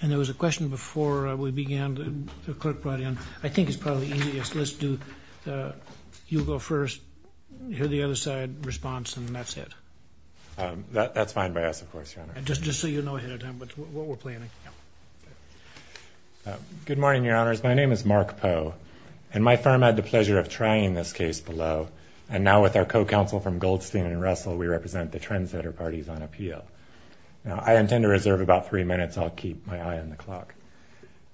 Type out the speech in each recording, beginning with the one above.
And there was a question before we began that the clerk brought in. I think it's probably easiest, let's do, you go first, hear the other side's response, and that's it. That's fine by us, of course, Your Honor. Just so you know ahead of time what we're planning. Good morning, Your Honors. My name is Mark Poe, and my firm had the pleasure of trying this case below, and now with our co-counsel from Goldstein and Russell, we represent the Trendsetter parties on appeal. Now, I intend to reserve about three minutes. I'll keep my eye on the clock.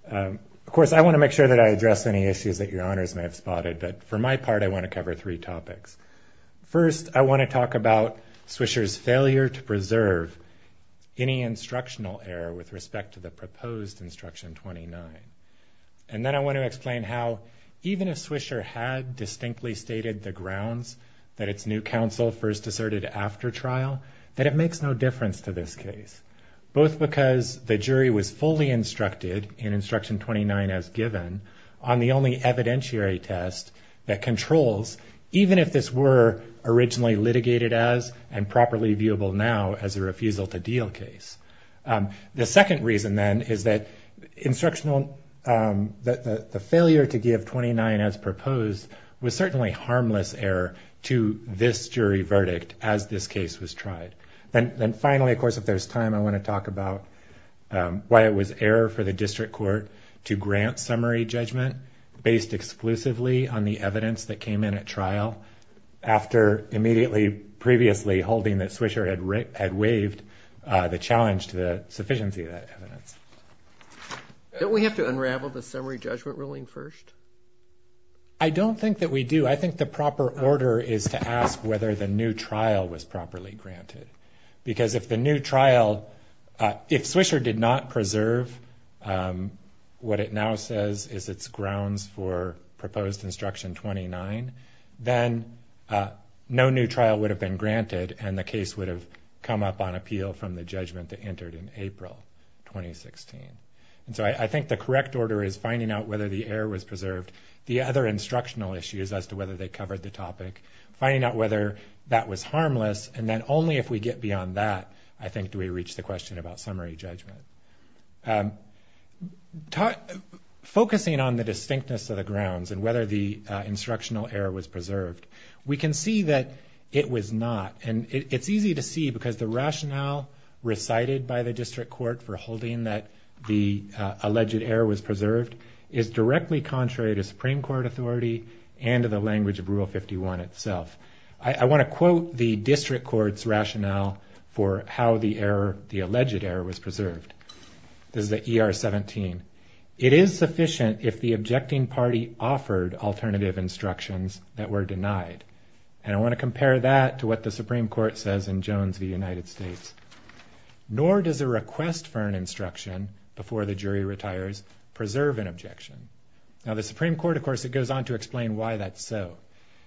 Of course, I want to make sure that I address any issues that Your Honors may have spotted, but for my part, I want to cover three topics. First, I want to talk about Swisher's failure to preserve any instructional error with respect to the proposed Instruction 29. And then I want to explain how even if Swisher had distinctly stated the grounds that its new counsel first asserted after trial, that it makes no difference to this case, both because the jury was fully instructed in Instruction 29 as given on the only evidentiary test that controls, even if this were originally litigated as and properly viewable now as a refusal to deal case. The second reason, then, is that the failure to give 29 as proposed was certainly harmless error to this jury verdict as this case was tried. Then finally, of course, if there's time, I want to talk about why it was error for the district court to grant summary judgment based exclusively on the evidence that came in at trial after immediately, previously holding that Swisher had waived the challenge to the sufficiency of that evidence. Don't we have to unravel the summary judgment ruling first? I don't think that we do. I think the proper order is to ask whether the new trial was properly granted. Because if the new trial, if Swisher did not preserve what it now says is its grounds for proposed Instruction 29, then no new trial would have been granted and the case would have come up on appeal from the judgment that entered in April 2016. And so I think the correct order is finding out whether the error was preserved. The other instructional issues as to whether they covered the topic, finding out whether that was harmless, and then only if we get beyond that, I think, do we reach the question about summary judgment. Focusing on the distinctness of the grounds and whether the instructional error was preserved, we can see that it was not. And it's easy to see because the rationale recited by the district court for holding that the alleged error was preserved is directly contrary to Supreme Court authority and to the language of Rule 51 itself. I want to quote the district court's rationale for how the error, the alleged error, was preserved. This is the ER 17. It is sufficient if the objecting party offered alternative instructions that were denied. And I want to compare that to what the Supreme Court says in Jones v. United States. Nor does a request for an instruction before the jury retires preserve an objection. Now, the Supreme Court, of course, it goes on to explain why that's so.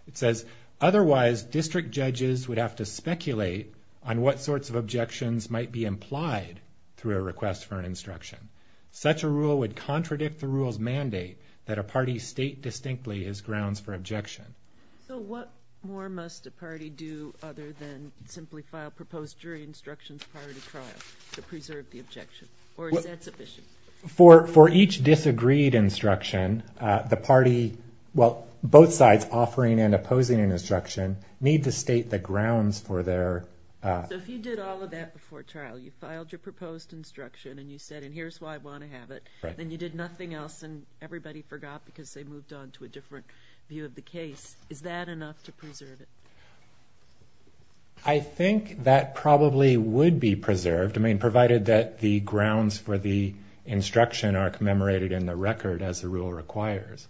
It says, otherwise district judges would have to speculate on what sorts of objections might be implied through a request for an instruction. Such a rule would contradict the rule's mandate that a party state distinctly its grounds for objection. So what more must a party do other than simply file proposed jury instructions prior to trial to preserve the objection? Or is that sufficient? For each disagreed instruction, the party, well, both sides offering and opposing an instruction need to state the grounds for their- So if you did all of that before trial, you filed your proposed instruction and you said, and here's why I want to have it, then you did nothing else and everybody forgot because they moved on to a different view of the case. Is that enough to preserve it? I think that probably would be preserved. I mean, provided that the grounds for the instruction are commemorated in the record as the rule requires.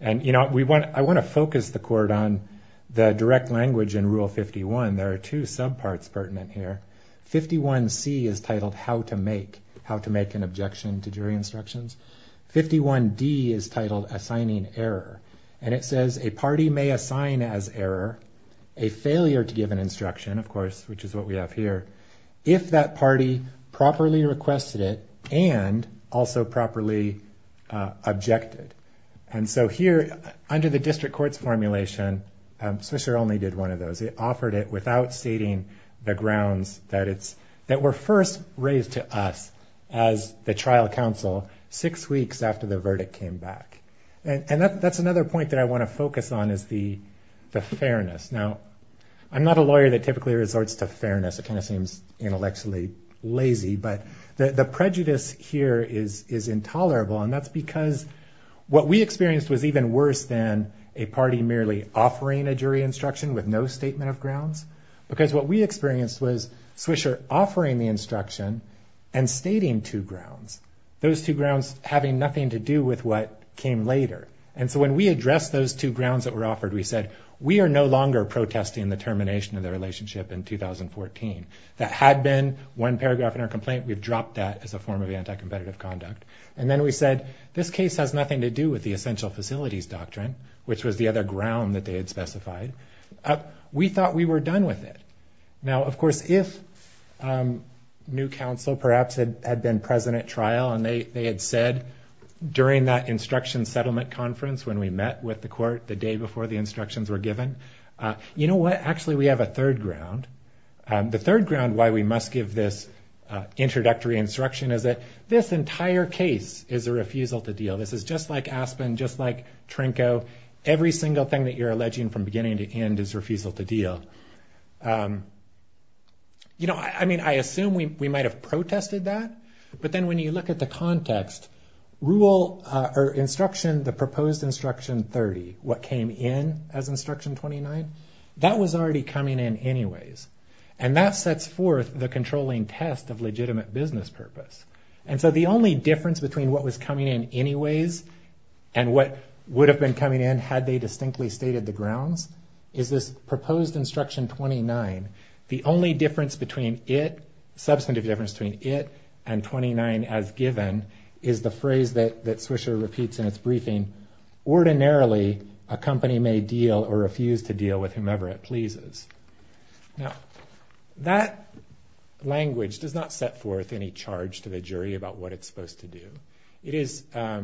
And, you know, I want to focus the court on the direct language in Rule 51. There are two subparts pertinent here. 51C is titled How to Make an Objection to Jury Instructions. 51D is titled Assigning Error. And it says a party may assign as error a failure to give an instruction, of course, which is what we have here, if that party properly requested it and also properly objected. And so here, under the district court's formulation, Swisher only did one of those. It offered it without stating the grounds that were first raised to us as the trial counsel six weeks after the verdict came back. And that's another point that I want to focus on is the fairness. Now, I'm not a lawyer that typically resorts to fairness. It kind of seems intellectually lazy, but the prejudice here is intolerable, and that's because what we experienced was even worse than a party merely offering a jury instruction with no statement of grounds, because what we experienced was Swisher offering the instruction and stating two grounds, those two grounds having nothing to do with what came later. And so when we addressed those two grounds that were offered, we said, we are no longer protesting the termination of the relationship in 2014. That had been one paragraph in our complaint. We've dropped that as a form of anti-competitive conduct. And then we said, this case has nothing to do with the essential facilities doctrine, which was the other ground that they had specified. We thought we were done with it. Now, of course, if new counsel perhaps had been present at trial, and they had said during that instruction settlement conference when we met with the court the day before the instructions were given, you know what, actually we have a third ground. The third ground why we must give this introductory instruction is that this entire case is a refusal to deal. This is just like Aspen, just like Trinco. Every single thing that you're alleging from beginning to end is refusal to deal. You know, I mean, I assume we might have protested that, but then when you look at the context, rule or instruction, the proposed instruction 30, what came in as instruction 29, that was already coming in anyways. And that sets forth the controlling test of legitimate business purpose. And so the only difference between what was coming in anyways and what would have been coming in had they distinctly stated the grounds is this proposed instruction 29. The only difference between it, substantive difference between it and 29 as given, is the phrase that Swisher repeats in its briefing, ordinarily a company may deal or refuse to deal with whomever it pleases. Now, that language does not set forth any charge to the jury about what it's supposed to do. It is, I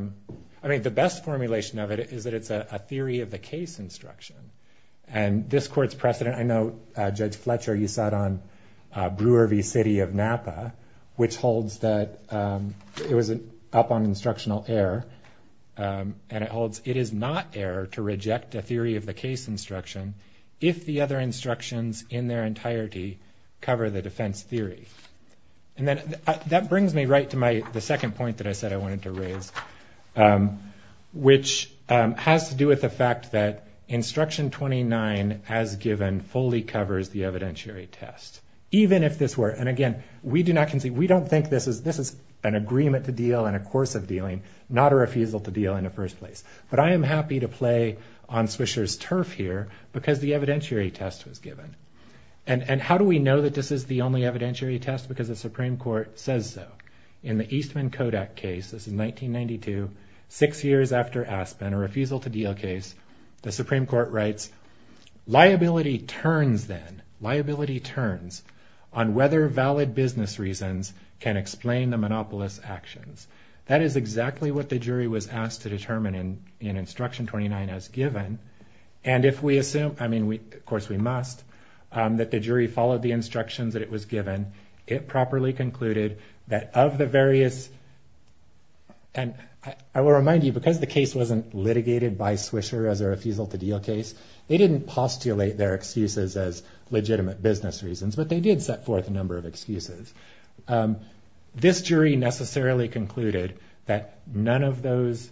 mean, the best formulation of it is that it's a theory of the case instruction. And this court's precedent, I know Judge Fletcher, you sat on Brewer v. City of Napa, which holds that it was up on instructional error, and it holds it is not error to reject a theory of the case instruction if the other instructions in their entirety cover the defense theory. And then that brings me right to the second point that I said I wanted to raise, which has to do with the fact that instruction 29 as given fully covers the evidentiary test. Even if this were, and again, we do not concede, we don't think this is an agreement to deal in a course of dealing, not a refusal to deal in the first place. But I am happy to play on Swisher's turf here because the evidentiary test was given. And how do we know that this is the only evidentiary test? That's because the Supreme Court says so. In the Eastman-Kodak case, this is 1992, six years after Aspen, a refusal to deal case, the Supreme Court writes, liability turns then, liability turns, on whether valid business reasons can explain the monopolist's actions. That is exactly what the jury was asked to determine in instruction 29 as given. And if we assume, I mean, of course we must, that the jury followed the instructions that it was given, it properly concluded that of the various, and I will remind you, because the case wasn't litigated by Swisher as a refusal to deal case, they didn't postulate their excuses as legitimate business reasons, but they did set forth a number of excuses. This jury necessarily concluded that none of those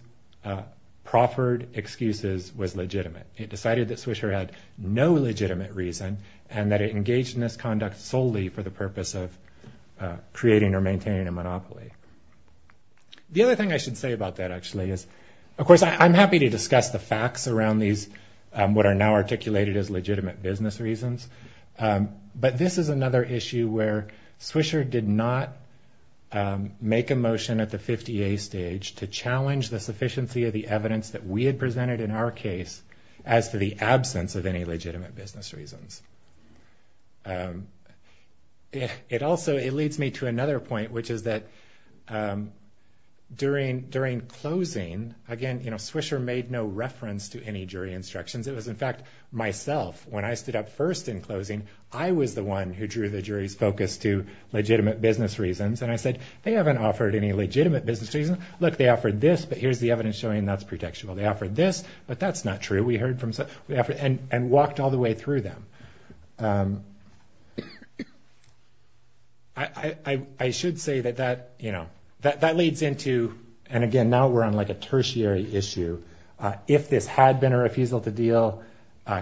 proffered excuses was legitimate. It decided that Swisher had no legitimate reason and that it engaged in this conduct solely for the purpose of creating or maintaining a monopoly. The other thing I should say about that actually is, of course I'm happy to discuss the facts around these, what are now articulated as legitimate business reasons, but this is another issue where Swisher did not make a motion at the 50A stage to challenge the sufficiency of the evidence that we had presented in our case as to the absence of any legitimate business reasons. It also, it leads me to another point, which is that during closing, again, you know, Swisher made no reference to any jury instructions. It was, in fact, myself. When I stood up first in closing, I was the one who drew the jury's focus to legitimate business reasons. And I said, they haven't offered any legitimate business reasons. Look, they offered this, but here's the evidence showing that's pretextual. They offered this, but that's not true. We heard from, and walked all the way through them. I should say that that, you know, that leads into, and again, now we're on like a tertiary issue. If this had been a refusal to deal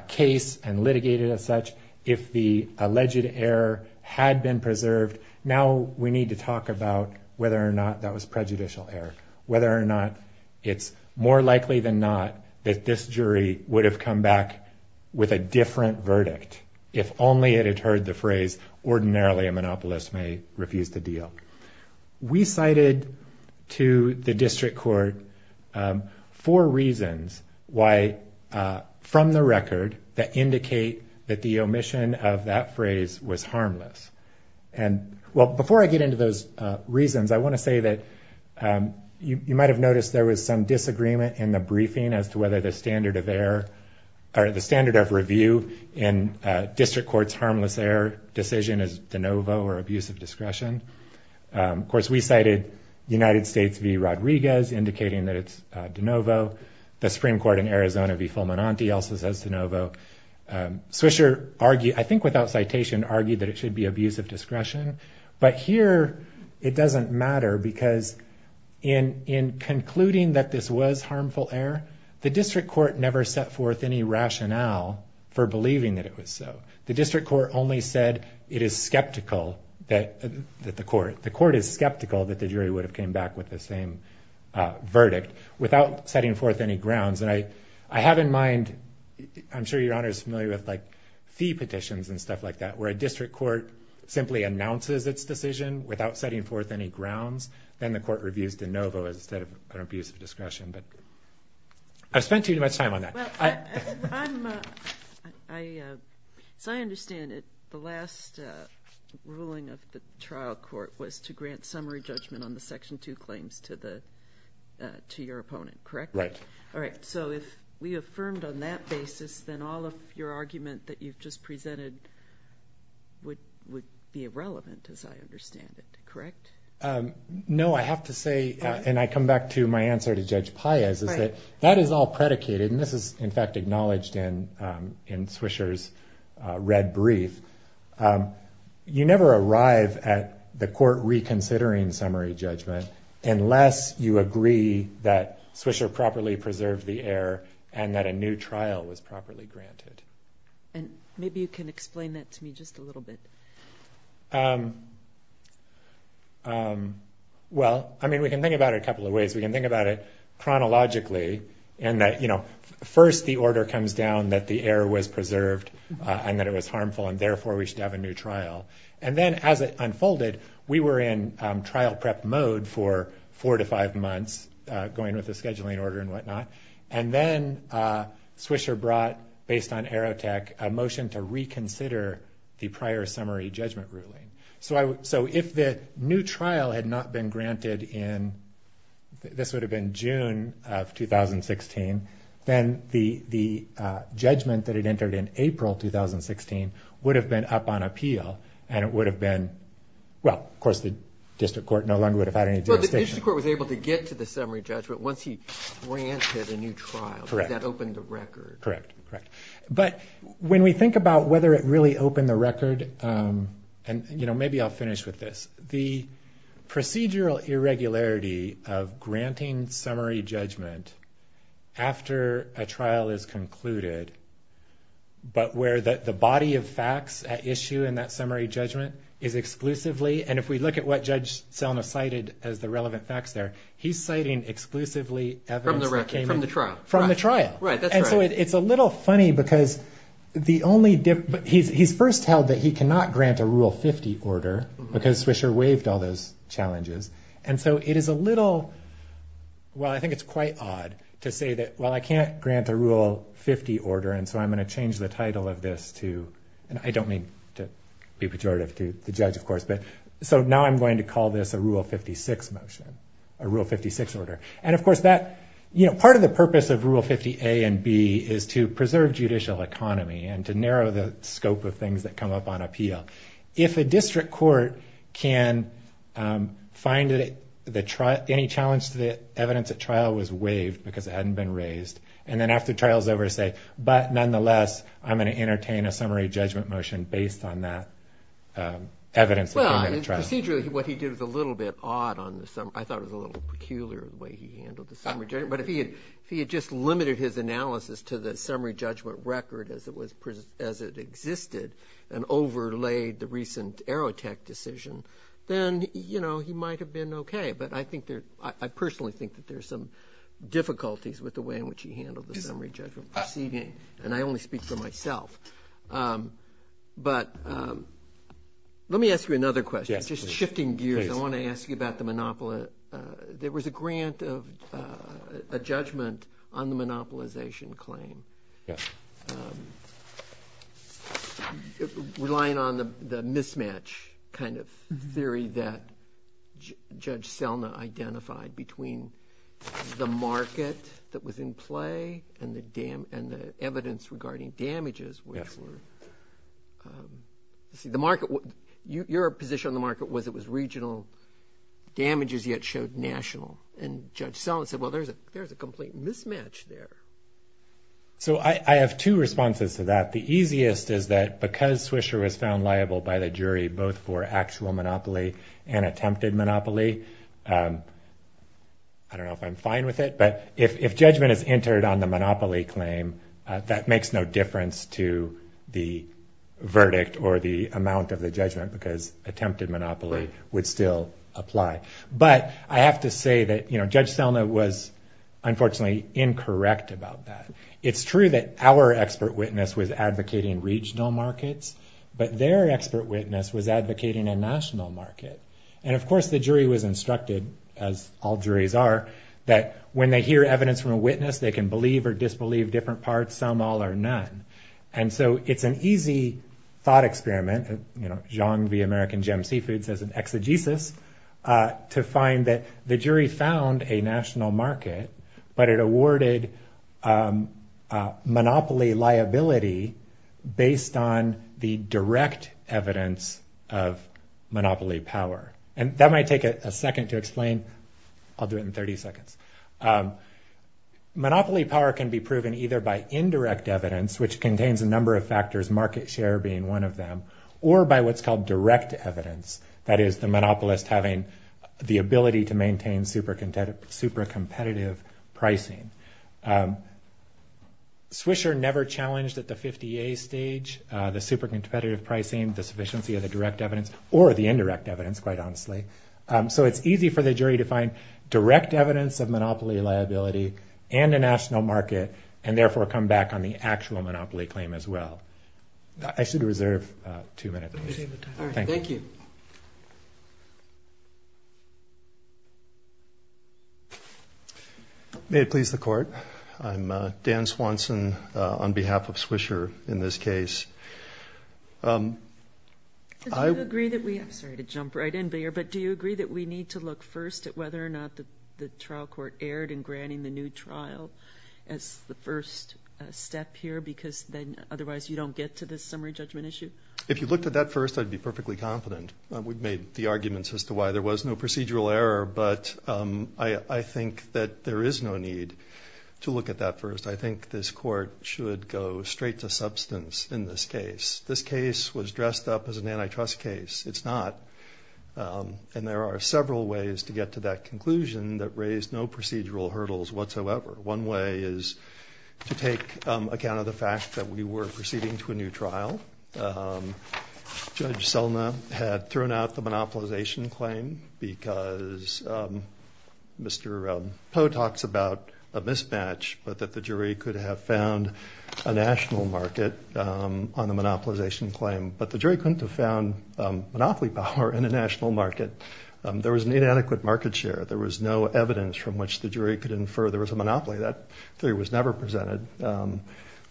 case and litigated as such, if the alleged error had been preserved, now we need to talk about whether or not that was prejudicial error, whether or not it's more likely than not that this jury would have come back with a different verdict. If only it had heard the phrase, ordinarily a monopolist may refuse to deal. We cited to the district court four reasons why, from the record, that indicate that the omission of that phrase was harmless. And, well, before I get into those reasons, I want to say that you might have noticed there was some disagreement in the briefing as to whether the standard of error, or the standard of review in district court's harmless error decision is de novo or abuse of discretion. Of course, we cited United States v. Rodriguez, indicating that it's de novo. The Supreme Court in Arizona v. Fulminante also says de novo. Swisher argued, I think without citation, argued that it should be abuse of discretion. But here, it doesn't matter because in concluding that this was harmful error, the district court never set forth any rationale for believing that it was so. The district court only said it is skeptical that the court, the court is skeptical that the jury would have came back with the same verdict, without setting forth any grounds. And I have in mind, I'm sure Your Honor is familiar with, like, fee petitions and stuff like that, where a district court simply announces its decision without setting forth any grounds. Then the court reviews de novo instead of an abuse of discretion. But I've spent too much time on that. Well, as I understand it, the last ruling of the trial court was to grant summary judgment on the Section 2 claims to your opponent, correct? Right. All right, so if we affirmed on that basis, then all of your argument that you've just presented would be irrelevant, as I understand it, correct? No, I have to say, and I come back to my answer to Judge Paez, is that that is all predicated, and this is, in fact, acknowledged in Swisher's red brief. You never arrive at the court reconsidering summary judgment unless you agree that Swisher properly preserved the error and that a new trial was properly granted. And maybe you can explain that to me just a little bit. Well, I mean, we can think about it a couple of ways. We can think about it chronologically in that, you know, first the order comes down that the error was preserved and that it was harmful, and therefore we should have a new trial. And then as it unfolded, we were in trial prep mode for four to five months, going with the scheduling order and whatnot, and then Swisher brought, based on Aerotech, a motion to reconsider the prior summary judgment ruling. So if the new trial had not been granted in, this would have been June of 2016, then the judgment that had entered in April 2016 would have been up on appeal, and it would have been, well, of course, the district court no longer would have had any jurisdiction. Well, the district court was able to get to the summary judgment once he granted a new trial. Correct. Because that opened the record. Correct, correct. But when we think about whether it really opened the record, and, you know, maybe I'll finish with this. The procedural irregularity of granting summary judgment after a trial is concluded, but where the body of facts at issue in that summary judgment is exclusively, and if we look at what Judge Selma cited as the relevant facts there, he's citing exclusively evidence that came in. From the record, from the trial. From the trial. Right, that's right. And so it's a little funny because the only difference, he's first held that he cannot grant a Rule 50 order because Swisher waived all those challenges, and so it is a little, well, I think it's quite odd to say that, well, I can't grant a Rule 50 order, and so I'm going to change the title of this to, and I don't mean to be pejorative to the judge, of course, but so now I'm going to call this a Rule 56 motion, a Rule 56 order. And, of course, that, you know, part of the purpose of Rule 50 A and B is to preserve judicial economy and to narrow the scope of things that come up on appeal. If a district court can find that any challenge to the evidence at trial was waived because it hadn't been raised, and then after the trial is over say, but nonetheless, I'm going to entertain a summary judgment motion based on that evidence that came out of the trial. Well, procedurally what he did was a little bit odd on the summary, I thought it was a little peculiar the way he handled the summary judgment, but if he had just limited his analysis to the summary judgment record as it existed and overlaid the recent Aerotech decision, then, you know, he might have been okay. But I personally think that there's some difficulties with the way in which he handled the summary judgment proceeding, and I only speak for myself. But let me ask you another question. Yes, please. Just shifting gears, I want to ask you about the monopoly. There was a grant of a judgment on the monopolization claim. Yes. Relying on the mismatch kind of theory that Judge Selma identified between the market that was in play and the evidence regarding damages, which were. Yes. Your position on the market was it was regional damages yet showed national, and Judge Selma said, well, there's a complete mismatch there. So I have two responses to that. The easiest is that because Swisher was found liable by the jury both for actual monopoly and attempted monopoly, I don't know if I'm fine with it, but if judgment is entered on the monopoly claim, that makes no difference to the verdict or the amount of the judgment, because attempted monopoly would still apply. But I have to say that, you know, Judge Selma was unfortunately incorrect about that. It's true that our expert witness was advocating regional markets, but their expert witness was advocating a national market. And, of course, the jury was instructed, as all juries are, that when they hear evidence from a witness, they can believe or disbelieve different parts. Some all or none. And so it's an easy thought experiment, you know, Xiong v. American Gem Seafood says an exegesis, to find that the jury found a national market, but it awarded monopoly liability based on the direct evidence of monopoly power. And that might take a second to explain. I'll do it in 30 seconds. Monopoly power can be proven either by indirect evidence, which contains a number of factors, market share being one of them, or by what's called direct evidence, that is the monopolist having the ability to maintain super competitive pricing. Swisher never challenged at the 50A stage the super competitive pricing, the sufficiency of the direct evidence, or the indirect evidence, quite honestly. So it's easy for the jury to find direct evidence of monopoly liability and a national market and therefore come back on the actual monopoly claim as well. I should reserve two minutes. Thank you. May it please the Court. I'm Dan Swanson on behalf of Swisher in this case. I'm sorry to jump right in, but do you agree that we need to look first at whether or not the trial court erred in granting the new trial as the first step here because then otherwise you don't get to the summary judgment issue? If you looked at that first, I'd be perfectly confident. We've made the arguments as to why there was no procedural error, but I think that there is no need to look at that first. I think this Court should go straight to substance in this case. This case was dressed up as an antitrust case. It's not. And there are several ways to get to that conclusion that raise no procedural hurdles whatsoever. One way is to take account of the fact that we were proceeding to a new trial. Judge Selna had thrown out the monopolization claim because Mr. Poe talks about a mismatch, but that the jury could have found a national market on the monopolization claim. But the jury couldn't have found monopoly power in a national market. There was an inadequate market share. There was no evidence from which the jury could infer there was a monopoly. That theory was never presented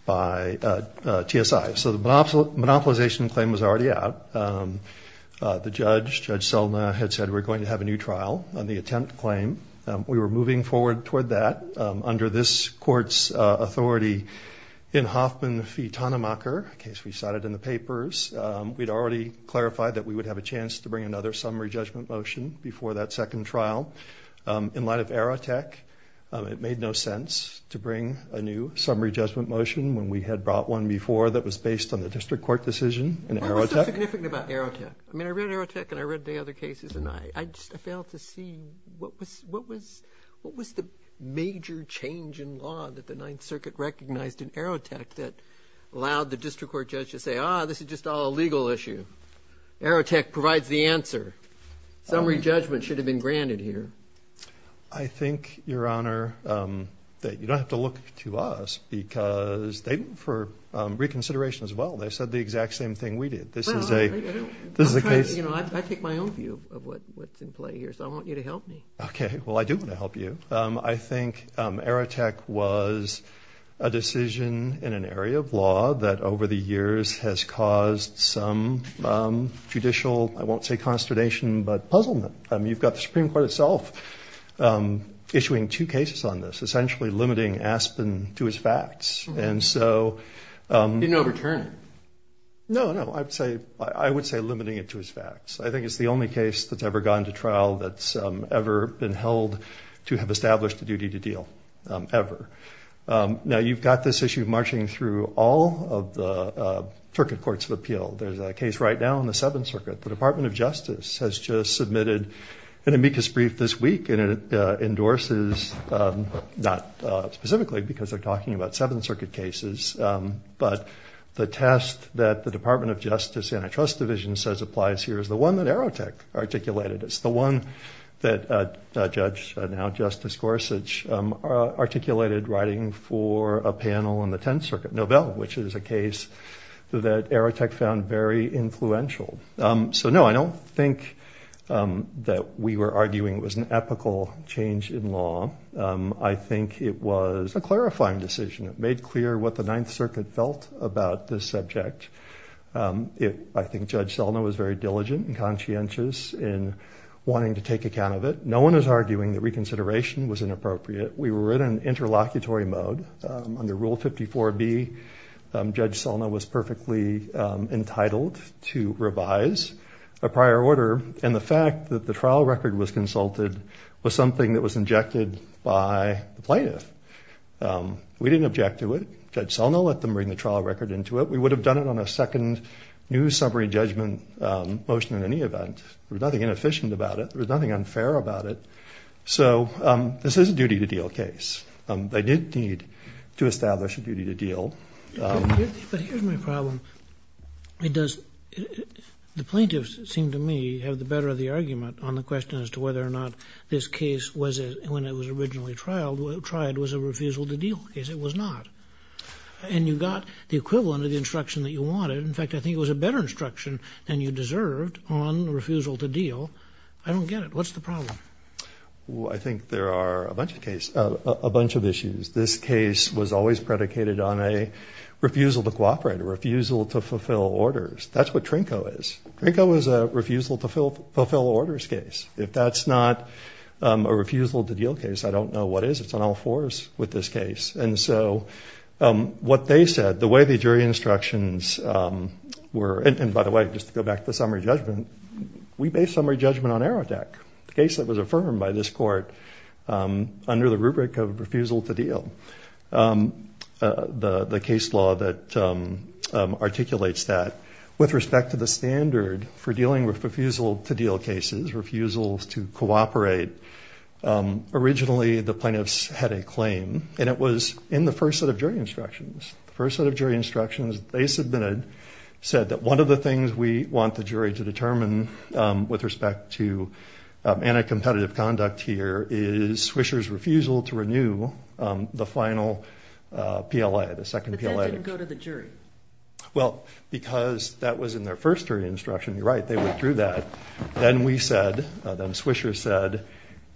by TSI. So the monopolization claim was already out. The judge, Judge Selna, had said we're going to have a new trial on the attempt claim. We were moving forward toward that under this Court's authority in Hoffman v. Tonnemacher, a case we cited in the papers. We'd already clarified that we would have a chance to bring another summary judgment motion before that second trial. In light of Aerotech, it made no sense to bring a new summary judgment motion when we had brought one before that was based on the district court decision in Aerotech. What was so significant about Aerotech? I mean, I read Aerotech and I read the other cases, and I just failed to see what was the major change in law that the Ninth Circuit recognized in Aerotech that allowed the district court judge to say, ah, this is just all a legal issue. Aerotech provides the answer. Summary judgment should have been granted here. I think, Your Honor, that you don't have to look to us because they, for reconsideration as well, they said the exact same thing we did. I take my own view of what's in play here, so I want you to help me. Okay. Well, I do want to help you. I think Aerotech was a decision in an area of law that over the years has caused some judicial, I won't say consternation, but puzzlement. You've got the Supreme Court itself issuing two cases on this, essentially limiting Aspen to its facts. Didn't overturn it. No, no, I would say limiting it to its facts. I think it's the only case that's ever gone to trial that's ever been held to have established a duty to deal, ever. Now, you've got this issue marching through all of the circuit courts of appeal. There's a case right now in the Seventh Circuit. The Department of Justice has just submitted an amicus brief this week, and it endorses, not specifically because they're talking about Seventh Circuit cases, but the test that the Department of Justice Antitrust Division says applies here is the one that Aerotech articulated. It's the one that Judge, now Justice Gorsuch, articulated writing for a panel in the Tenth Circuit Novelle, which is a case that Aerotech found very influential. So, no, I don't think that we were arguing it was an ethical change in law. I think it was a clarifying decision. It made clear what the Ninth Circuit felt about this subject. I think Judge Selna was very diligent and conscientious in wanting to take account of it. No one is arguing that reconsideration was inappropriate. We were in an interlocutory mode. Under Rule 54B, Judge Selna was perfectly entitled to revise a prior order, and the fact that the trial record was consulted was something that was injected by the plaintiff. We didn't object to it. Judge Selna let them bring the trial record into it. We would have done it on a second new summary judgment motion in any event. There was nothing inefficient about it. There was nothing unfair about it. So this is a duty-to-deal case. They did need to establish a duty-to-deal. But here's my problem. It does, the plaintiffs, it seemed to me, have the better of the argument on the question as to whether or not this case, when it was originally tried, was a refusal-to-deal case. It was not. And you got the equivalent of the instruction that you wanted. In fact, I think it was a better instruction than you deserved on refusal-to-deal. I don't get it. What's the problem? I think there are a bunch of issues. This case was always predicated on a refusal to cooperate, a refusal to fulfill orders. That's what Trinko is. Trinko is a refusal-to-fulfill-orders case. If that's not a refusal-to-deal case, I don't know what is. It's on all fours with this case. And so what they said, the way the jury instructions were, and by the way, just to go back to the summary judgment, we based summary judgment on AERODEC, the case that was affirmed by this court under the rubric of refusal-to-deal, the case law that articulates that. With respect to the standard for dealing with refusal-to-deal cases, refusals to cooperate, originally the plaintiffs had a claim, and it was in the first set of jury instructions. The first set of jury instructions they submitted said that one of the things we want the jury to determine with respect to anti-competitive conduct here is Swisher's refusal to renew the final PLA, the second PLA. But that didn't go to the jury. Well, because that was in their first jury instruction, you're right, they withdrew that. Then we said, then Swisher said,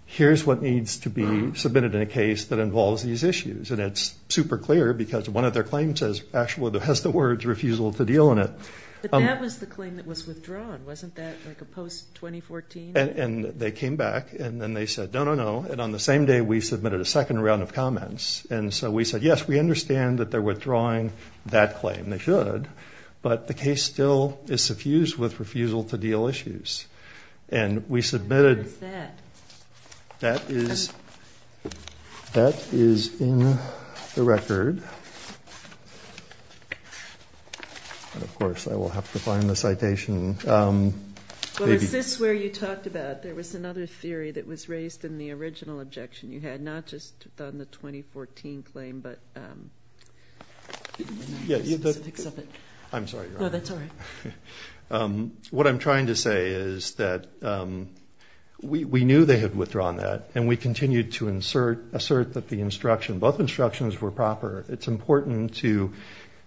here's what needs to be submitted in a case that involves these issues. And it's super clear because one of their claims has the words refusal to deal in it. But that was the claim that was withdrawn. Wasn't that like a post-2014? And they came back, and then they said, no, no, no. And so we said, yes, we understand that they're withdrawing that claim. They should. But the case still is suffused with refusal-to-deal issues. And we submitted. Where is that? That is in the record. Of course, I will have to find the citation. Well, is this where you talked about there was another theory that was raised in the original objection you had, not just on the 2014 claim, but the specifics of it? I'm sorry, Your Honor. No, that's all right. What I'm trying to say is that we knew they had withdrawn that. And we continued to assert that the instruction, both instructions were proper. It's important to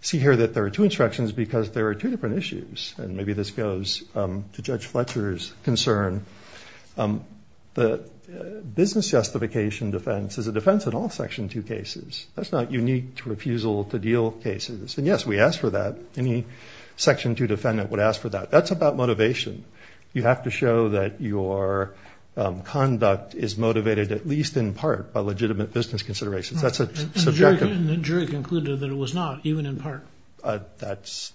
see here that there are two instructions because there are two different issues. And maybe this goes to Judge Fletcher's concern. The business justification defense is a defense in all Section 2 cases. That's not unique to refusal-to-deal cases. And, yes, we asked for that. Any Section 2 defendant would ask for that. That's about motivation. You have to show that your conduct is motivated at least in part by legitimate business considerations. That's subjective. And the jury concluded that it was not, even in part. That's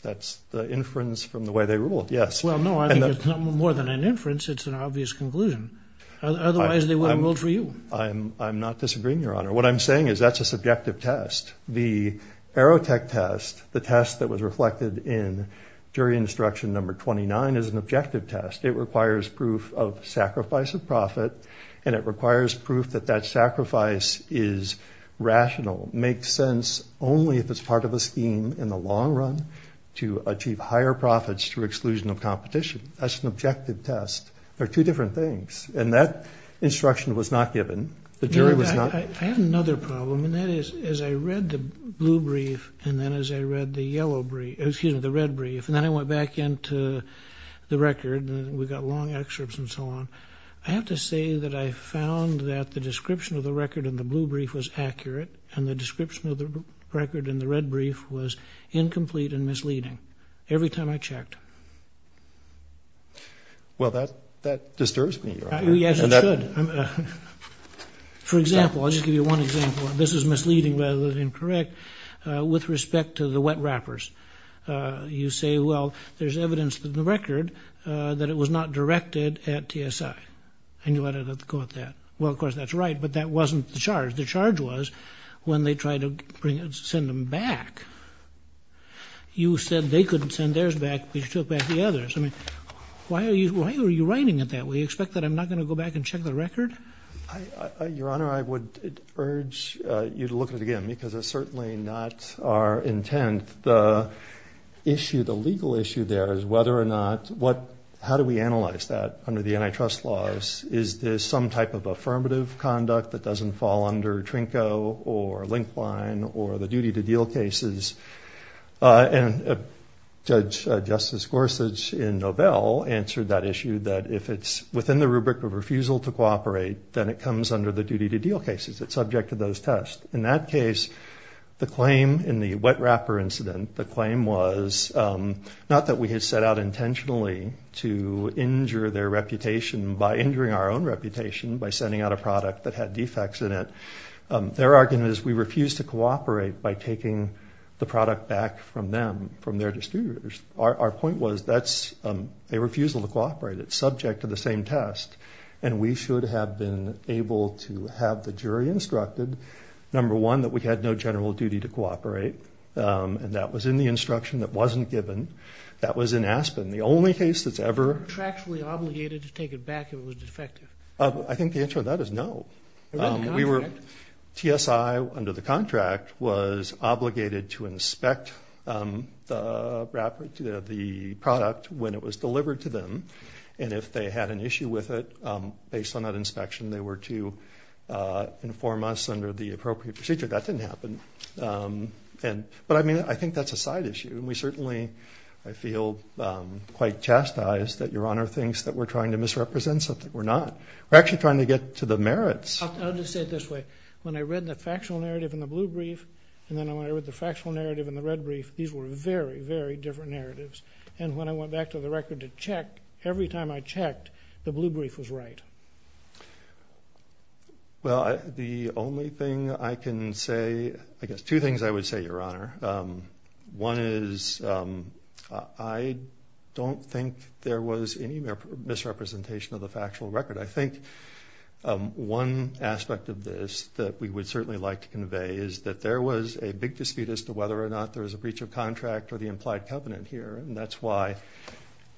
the inference from the way they ruled, yes. Well, no, I think it's more than an inference. It's an obvious conclusion. Otherwise, they wouldn't have ruled for you. I'm not disagreeing, Your Honor. What I'm saying is that's a subjective test. The Aerotech test, the test that was reflected in jury instruction number 29, is an objective test. It requires proof of sacrifice of profit, and it requires proof that that sacrifice is rational, makes sense only if it's part of a scheme in the long run to achieve higher profits through exclusion of competition. That's an objective test. They're two different things, and that instruction was not given. The jury was not. I have another problem, and that is as I read the blue brief and then as I read the yellow brief, excuse me, the red brief, and then I went back into the record, and we got long excerpts and so on, I have to say that I found that the description of the record in the blue brief was accurate and the description of the record in the red brief was incomplete and misleading every time I checked. Well, that disturbs me, Your Honor. Yes, it should. For example, I'll just give you one example, and this is misleading rather than correct, with respect to the wet wrappers. You say, well, there's evidence in the record that it was not directed at TSI, and you let it go at that. Well, of course, that's right, but that wasn't the charge. The charge was when they tried to send them back, you said they couldn't send theirs back, but you took back the others. I mean, why are you writing it that way? You expect that I'm not going to go back and check the record? Your Honor, I would urge you to look at it again because it's certainly not our intent. The issue, the legal issue there is whether or not, how do we analyze that under the antitrust laws? Is this some type of affirmative conduct that doesn't fall under Trinco or Linkline or the duty-to-deal cases? And Judge Justice Gorsuch in Novell answered that issue, that if it's within the rubric of refusal to cooperate, then it comes under the duty-to-deal cases. It's subject to those tests. In that case, the claim in the wet wrapper incident, the claim was not that we had set out intentionally to injure their reputation by injuring our own reputation by sending out a product that had defects in it. Their argument is we refused to cooperate by taking the product back from them, from their distributors. Our point was that's a refusal to cooperate. It's subject to the same test, and we should have been able to have the jury instructed, number one, that we had no general duty to cooperate, and that was in the instruction that wasn't given. That was in Aspen. The only case that's ever – Contractually obligated to take it back if it was defective. I think the answer to that is no. We were – TSI, under the contract, was obligated to inspect the product when it was delivered to them, and if they had an issue with it, based on that inspection, they were to inform us under the appropriate procedure. That didn't happen. But, I mean, I think that's a side issue. And we certainly – I feel quite chastised that Your Honor thinks that we're trying to misrepresent something we're not. We're actually trying to get to the merits. I'll just say it this way. When I read the factual narrative in the blue brief, and then when I read the factual narrative in the red brief, these were very, very different narratives. And when I went back to the record to check, every time I checked, the blue brief was right. Well, the only thing I can say – I guess two things I would say, Your Honor. One is I don't think there was any misrepresentation of the factual record. I think one aspect of this that we would certainly like to convey is that there was a big dispute as to whether or not there was a breach of contract or the implied covenant here, and that's why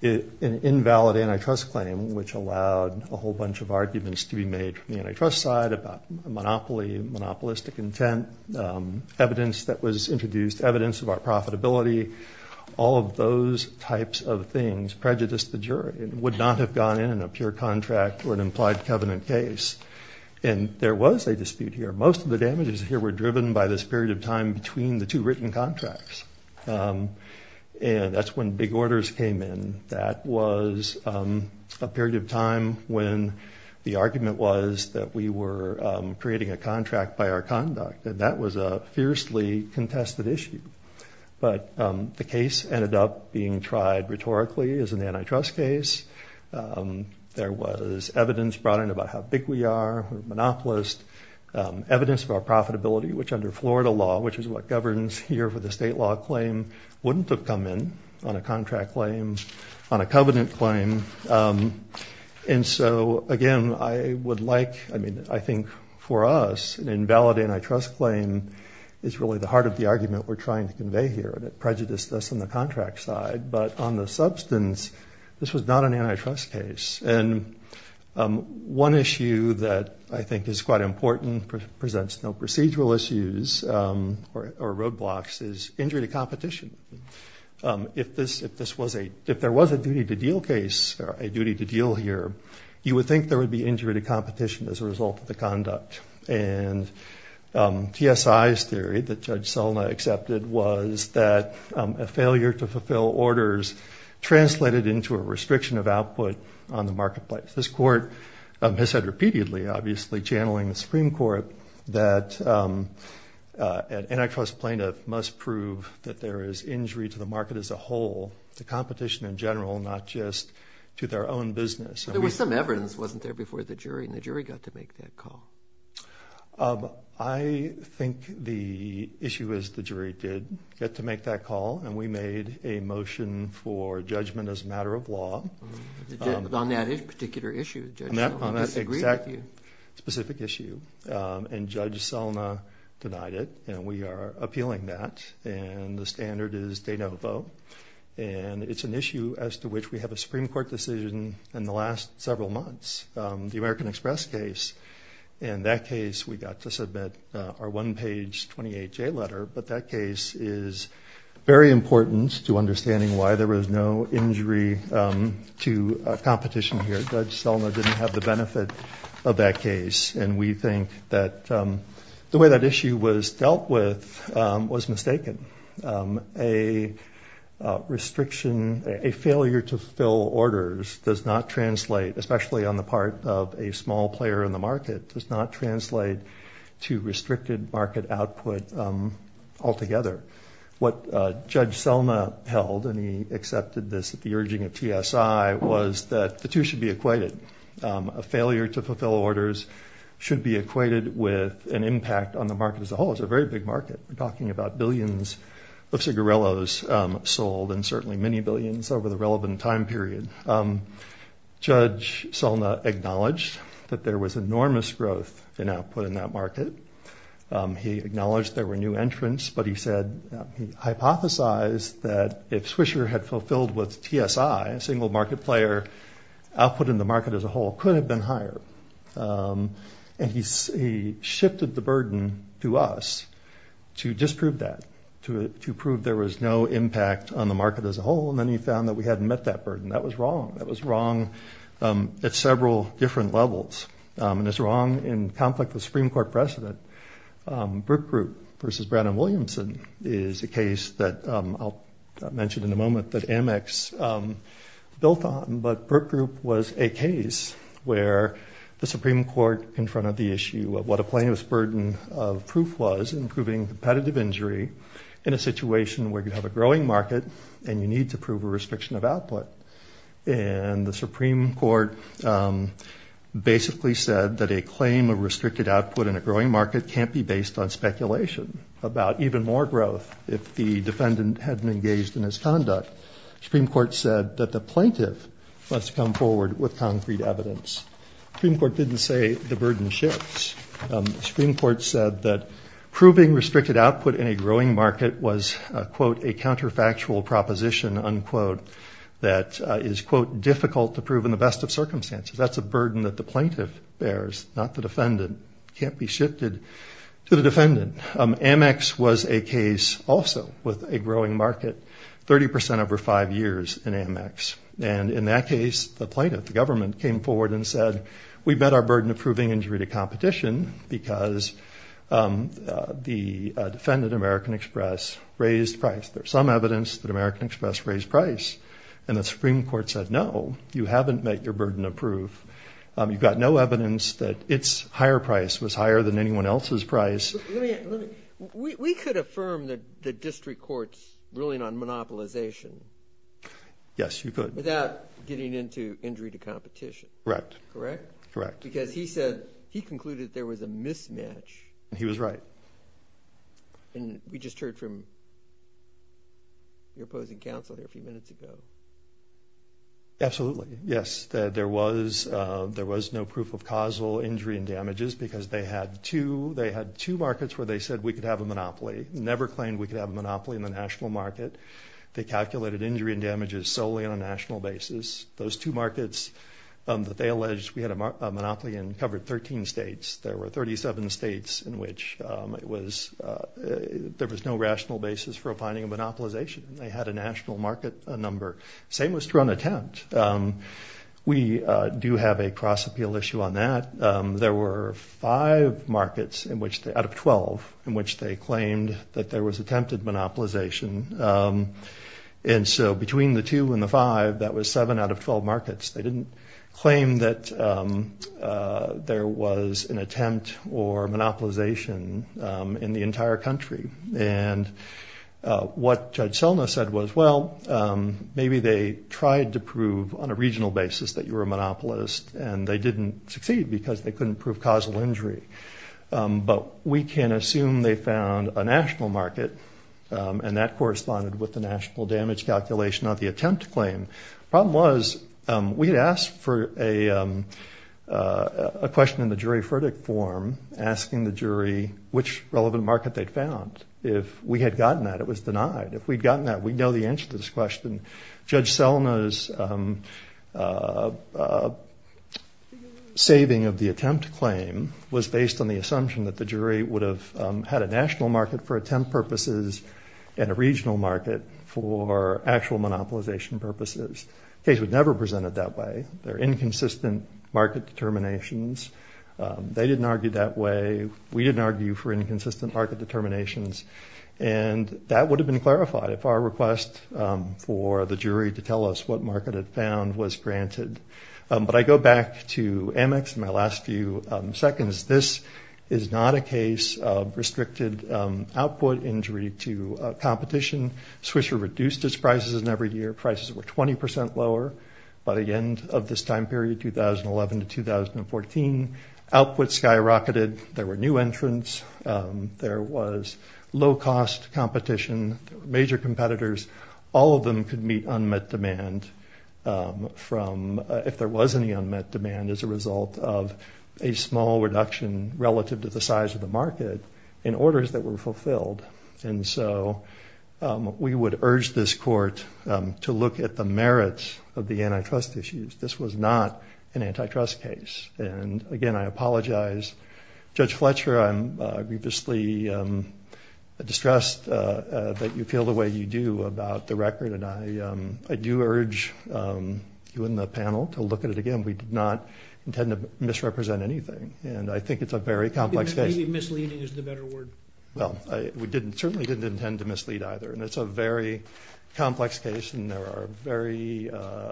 an invalid antitrust claim, which allowed a whole bunch of arguments to be made from the antitrust side about monopoly, monopolistic intent, evidence that was introduced, evidence of our profitability, all of those types of things prejudiced the jury and would not have gone in in a pure contract or an implied covenant case. And there was a dispute here. Most of the damages here were driven by this period of time between the two written contracts, and that's when big orders came in. That was a period of time when the argument was that we were creating a contract by our conduct, and that was a fiercely contested issue. But the case ended up being tried rhetorically as an antitrust case. There was evidence brought in about how big we are, monopolist, evidence of our profitability, which under Florida law, which is what governs here for the state law claim, wouldn't have come in on a contract claim, on a covenant claim. And so, again, I would like, I mean, I think for us, an invalid antitrust claim is really the heart of the argument we're trying to convey here, and it prejudiced us on the contract side. But on the substance, this was not an antitrust case. And one issue that I think is quite important, presents no procedural issues or roadblocks, is injury to competition. If there was a duty to deal case or a duty to deal here, you would think there would be injury to competition as a result of the conduct. And TSI's theory that Judge Selna accepted was that a failure to fulfill orders translated into a restriction of output on the marketplace. This court has said repeatedly, obviously, channeling the Supreme Court, that an antitrust plaintiff must prove that there is injury to the market as a whole, to competition in general, not just to their own business. There was some evidence that wasn't there before the jury, and the jury got to make that call. I think the issue is the jury did get to make that call, and we made a motion for judgment as a matter of law. On that particular issue, Judge Selna must agree with you. On that exact specific issue. And Judge Selna denied it, and we are appealing that. And the standard is de novo. And it's an issue as to which we have a Supreme Court decision in the last several months, the American Express case. In that case, we got to submit our one-page 28-J letter. But that case is very important to understanding why there was no injury to competition here. Judge Selna didn't have the benefit of that case, and we think that the way that issue was dealt with was mistaken. A restriction, a failure to fill orders does not translate, especially on the part of a small player in the market, does not translate to restricted market output altogether. What Judge Selna held, and he accepted this at the urging of TSI, was that the two should be equated. A failure to fulfill orders should be equated with an impact on the market as a whole. It's a very big market. We're talking about billions of cigarillos sold, and certainly many billions over the relevant time period. Judge Selna acknowledged that there was enormous growth in output in that market. He acknowledged there were new entrants, but he hypothesized that if Swisher had fulfilled with TSI, a single market player, output in the market as a whole could have been higher. And he shifted the burden to us to disprove that, to prove there was no impact on the market as a whole, and then he found that we hadn't met that burden. That was wrong. That was wrong at several different levels, and it's wrong in conflict with Supreme Court precedent. Brook Group versus Brandon Williamson is a case that I'll mention in a moment that Amex built on, but Brook Group was a case where the Supreme Court confronted the issue of what a plaintiff's burden of proof was in proving competitive injury in a situation where you have a growing market and you need to prove a restriction of output. And the Supreme Court basically said that a claim of restricted output in a growing market can't be based on speculation about even more growth if the defendant hadn't engaged in his conduct. The Supreme Court said that the plaintiff must come forward with concrete evidence. The Supreme Court didn't say the burden shifts. The Supreme Court said that proving restricted output in a growing market was, quote, a counterfactual proposition, unquote, that is, quote, difficult to prove in the best of circumstances. That's a burden that the plaintiff bears, not the defendant. It can't be shifted to the defendant. Amex was a case also with a growing market, 30 percent over five years in Amex. And in that case, the plaintiff, the government, came forward and said, we've met our burden of proving injury to competition because the defendant, American Express, raised price. There's some evidence that American Express raised price. And the Supreme Court said, no, you haven't met your burden of proof. You've got no evidence that its higher price was higher than anyone else's price. We could affirm that the district court's ruling on monopolization. Yes, you could. Without getting into injury to competition. Correct. Correct? Correct. Because he said he concluded there was a mismatch. He was right. And we just heard from your opposing counsel here a few minutes ago. Absolutely, yes. There was no proof of causal injury and damages because they had two markets where they said we could have a monopoly, never claimed we could have a monopoly in the national market. They calculated injury and damages solely on a national basis. Those two markets that they alleged we had a monopoly in covered 13 states. There were 37 states in which there was no rational basis for finding a monopolization. They had a national market number. Same was true on attempt. We do have a cross-appeal issue on that. There were five markets out of 12 in which they claimed that there was attempted monopolization. And so between the two and the five, that was seven out of 12 markets. They didn't claim that there was an attempt or monopolization in the entire country. And what Judge Selna said was, well, maybe they tried to prove on a regional basis that you were a monopolist and they didn't succeed because they couldn't prove causal injury. But we can assume they found a national market and that corresponded with the national damage calculation of the attempt claim. The problem was we had asked for a question in the jury verdict form, asking the jury which relevant market they'd found. If we had gotten that, it was denied. If we'd gotten that, we'd know the answer to this question. Judge Selna's saving of the attempt claim was based on the assumption that the jury would have had a national market for attempt purposes and a regional market for actual monopolization purposes. The case was never presented that way. There are inconsistent market determinations. They didn't argue that way. We didn't argue for inconsistent market determinations. And that would have been clarified if our request for the jury to tell us what market it found was granted. But I go back to Amex in my last few seconds. This is not a case of restricted output injury to competition. Swisher reduced its prices in every year. Prices were 20% lower by the end of this time period, 2011 to 2014. Output skyrocketed. There were new entrants. There was low-cost competition. There were major competitors. All of them could meet unmet demand if there was any unmet demand as a result of a small reduction relative to the size of the market in orders that were fulfilled. And so we would urge this court to look at the merits of the antitrust issues. This was not an antitrust case. And, again, I apologize. Judge Fletcher, I'm grievously distressed that you feel the way you do about the record, and I do urge you and the panel to look at it again. We did not intend to misrepresent anything. And I think it's a very complex case. Maybe misleading is the better word. Well, we certainly didn't intend to mislead either. And it's a very complex case, and there are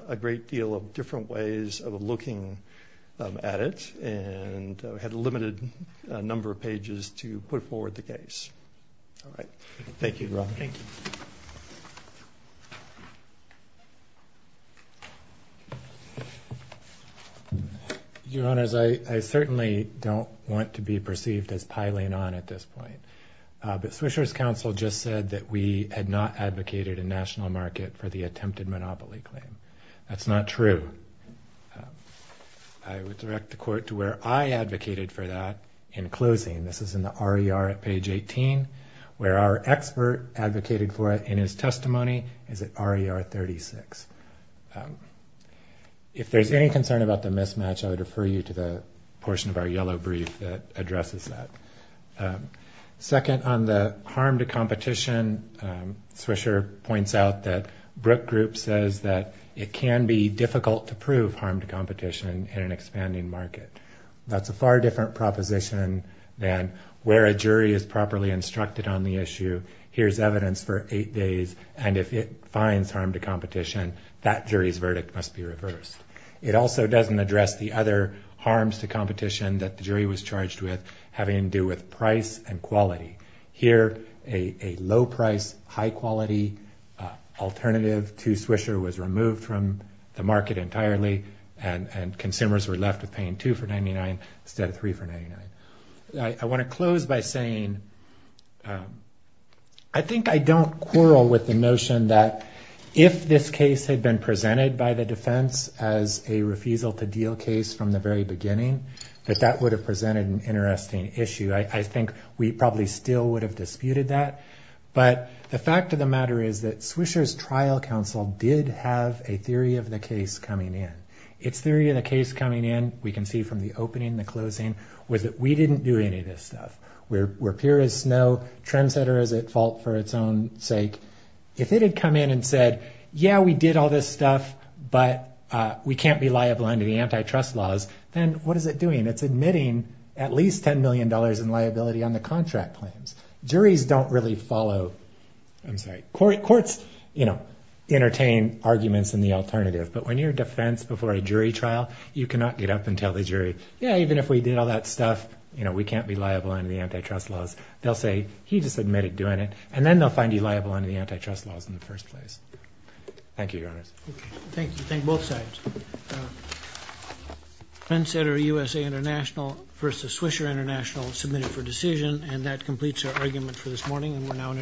a great deal of different ways of looking at it. And we had a limited number of pages to put forward the case. All right. Thank you, Robert. Thank you. Your Honors, I certainly don't want to be perceived as piling on at this point. But Swisher's counsel just said that we had not advocated a national market for the attempted monopoly claim. That's not true. I would direct the court to where I advocated for that in closing. This is in the RER at page 18, where our expert advocated for it in his testimony is at RER 36. If there's any concern about the mismatch, I would refer you to the portion of our yellow brief that addresses that. Second, on the harm to competition, Swisher points out that Brook Group says that it can be difficult to prove harm to competition in an expanding market. That's a far different proposition than where a jury is properly instructed on the issue, here's evidence for eight days, and if it finds harm to competition, that jury's verdict must be reversed. It also doesn't address the other harms to competition that the jury was charged with having to do with price and quality. Here, a low-price, high-quality alternative to Swisher was removed from the market entirely, and consumers were left with paying two for 99 instead of three for 99. I want to close by saying I think I don't quarrel with the notion that if this case had been presented by the defense as a refusal-to-deal case from the very beginning, that that would have presented an interesting issue. I think we probably still would have disputed that, but the fact of the matter is that Swisher's trial counsel did have a theory of the case coming in. Its theory of the case coming in, we can see from the opening and the closing, was that we didn't do any of this stuff. We're pure as snow. Trendsetter is at fault for its own sake. If it had come in and said, yeah, we did all this stuff, but we can't be liable under the antitrust laws, then what is it doing? It's admitting at least $10 million in liability on the contract claims. Juries don't really follow. I'm sorry, courts entertain arguments in the alternative, but when you're defense before a jury trial, you cannot get up and tell the jury, yeah, even if we did all that stuff, we can't be liable under the antitrust laws. They'll say, he just admitted doing it, and then they'll find you liable under the antitrust laws in the first place. Thank you, Your Honors. Thank you. Thank both sides. Trendsetter USA International versus Swisher International submitted for decision, and that completes our argument for this morning, and we're now in adjournment. All rise.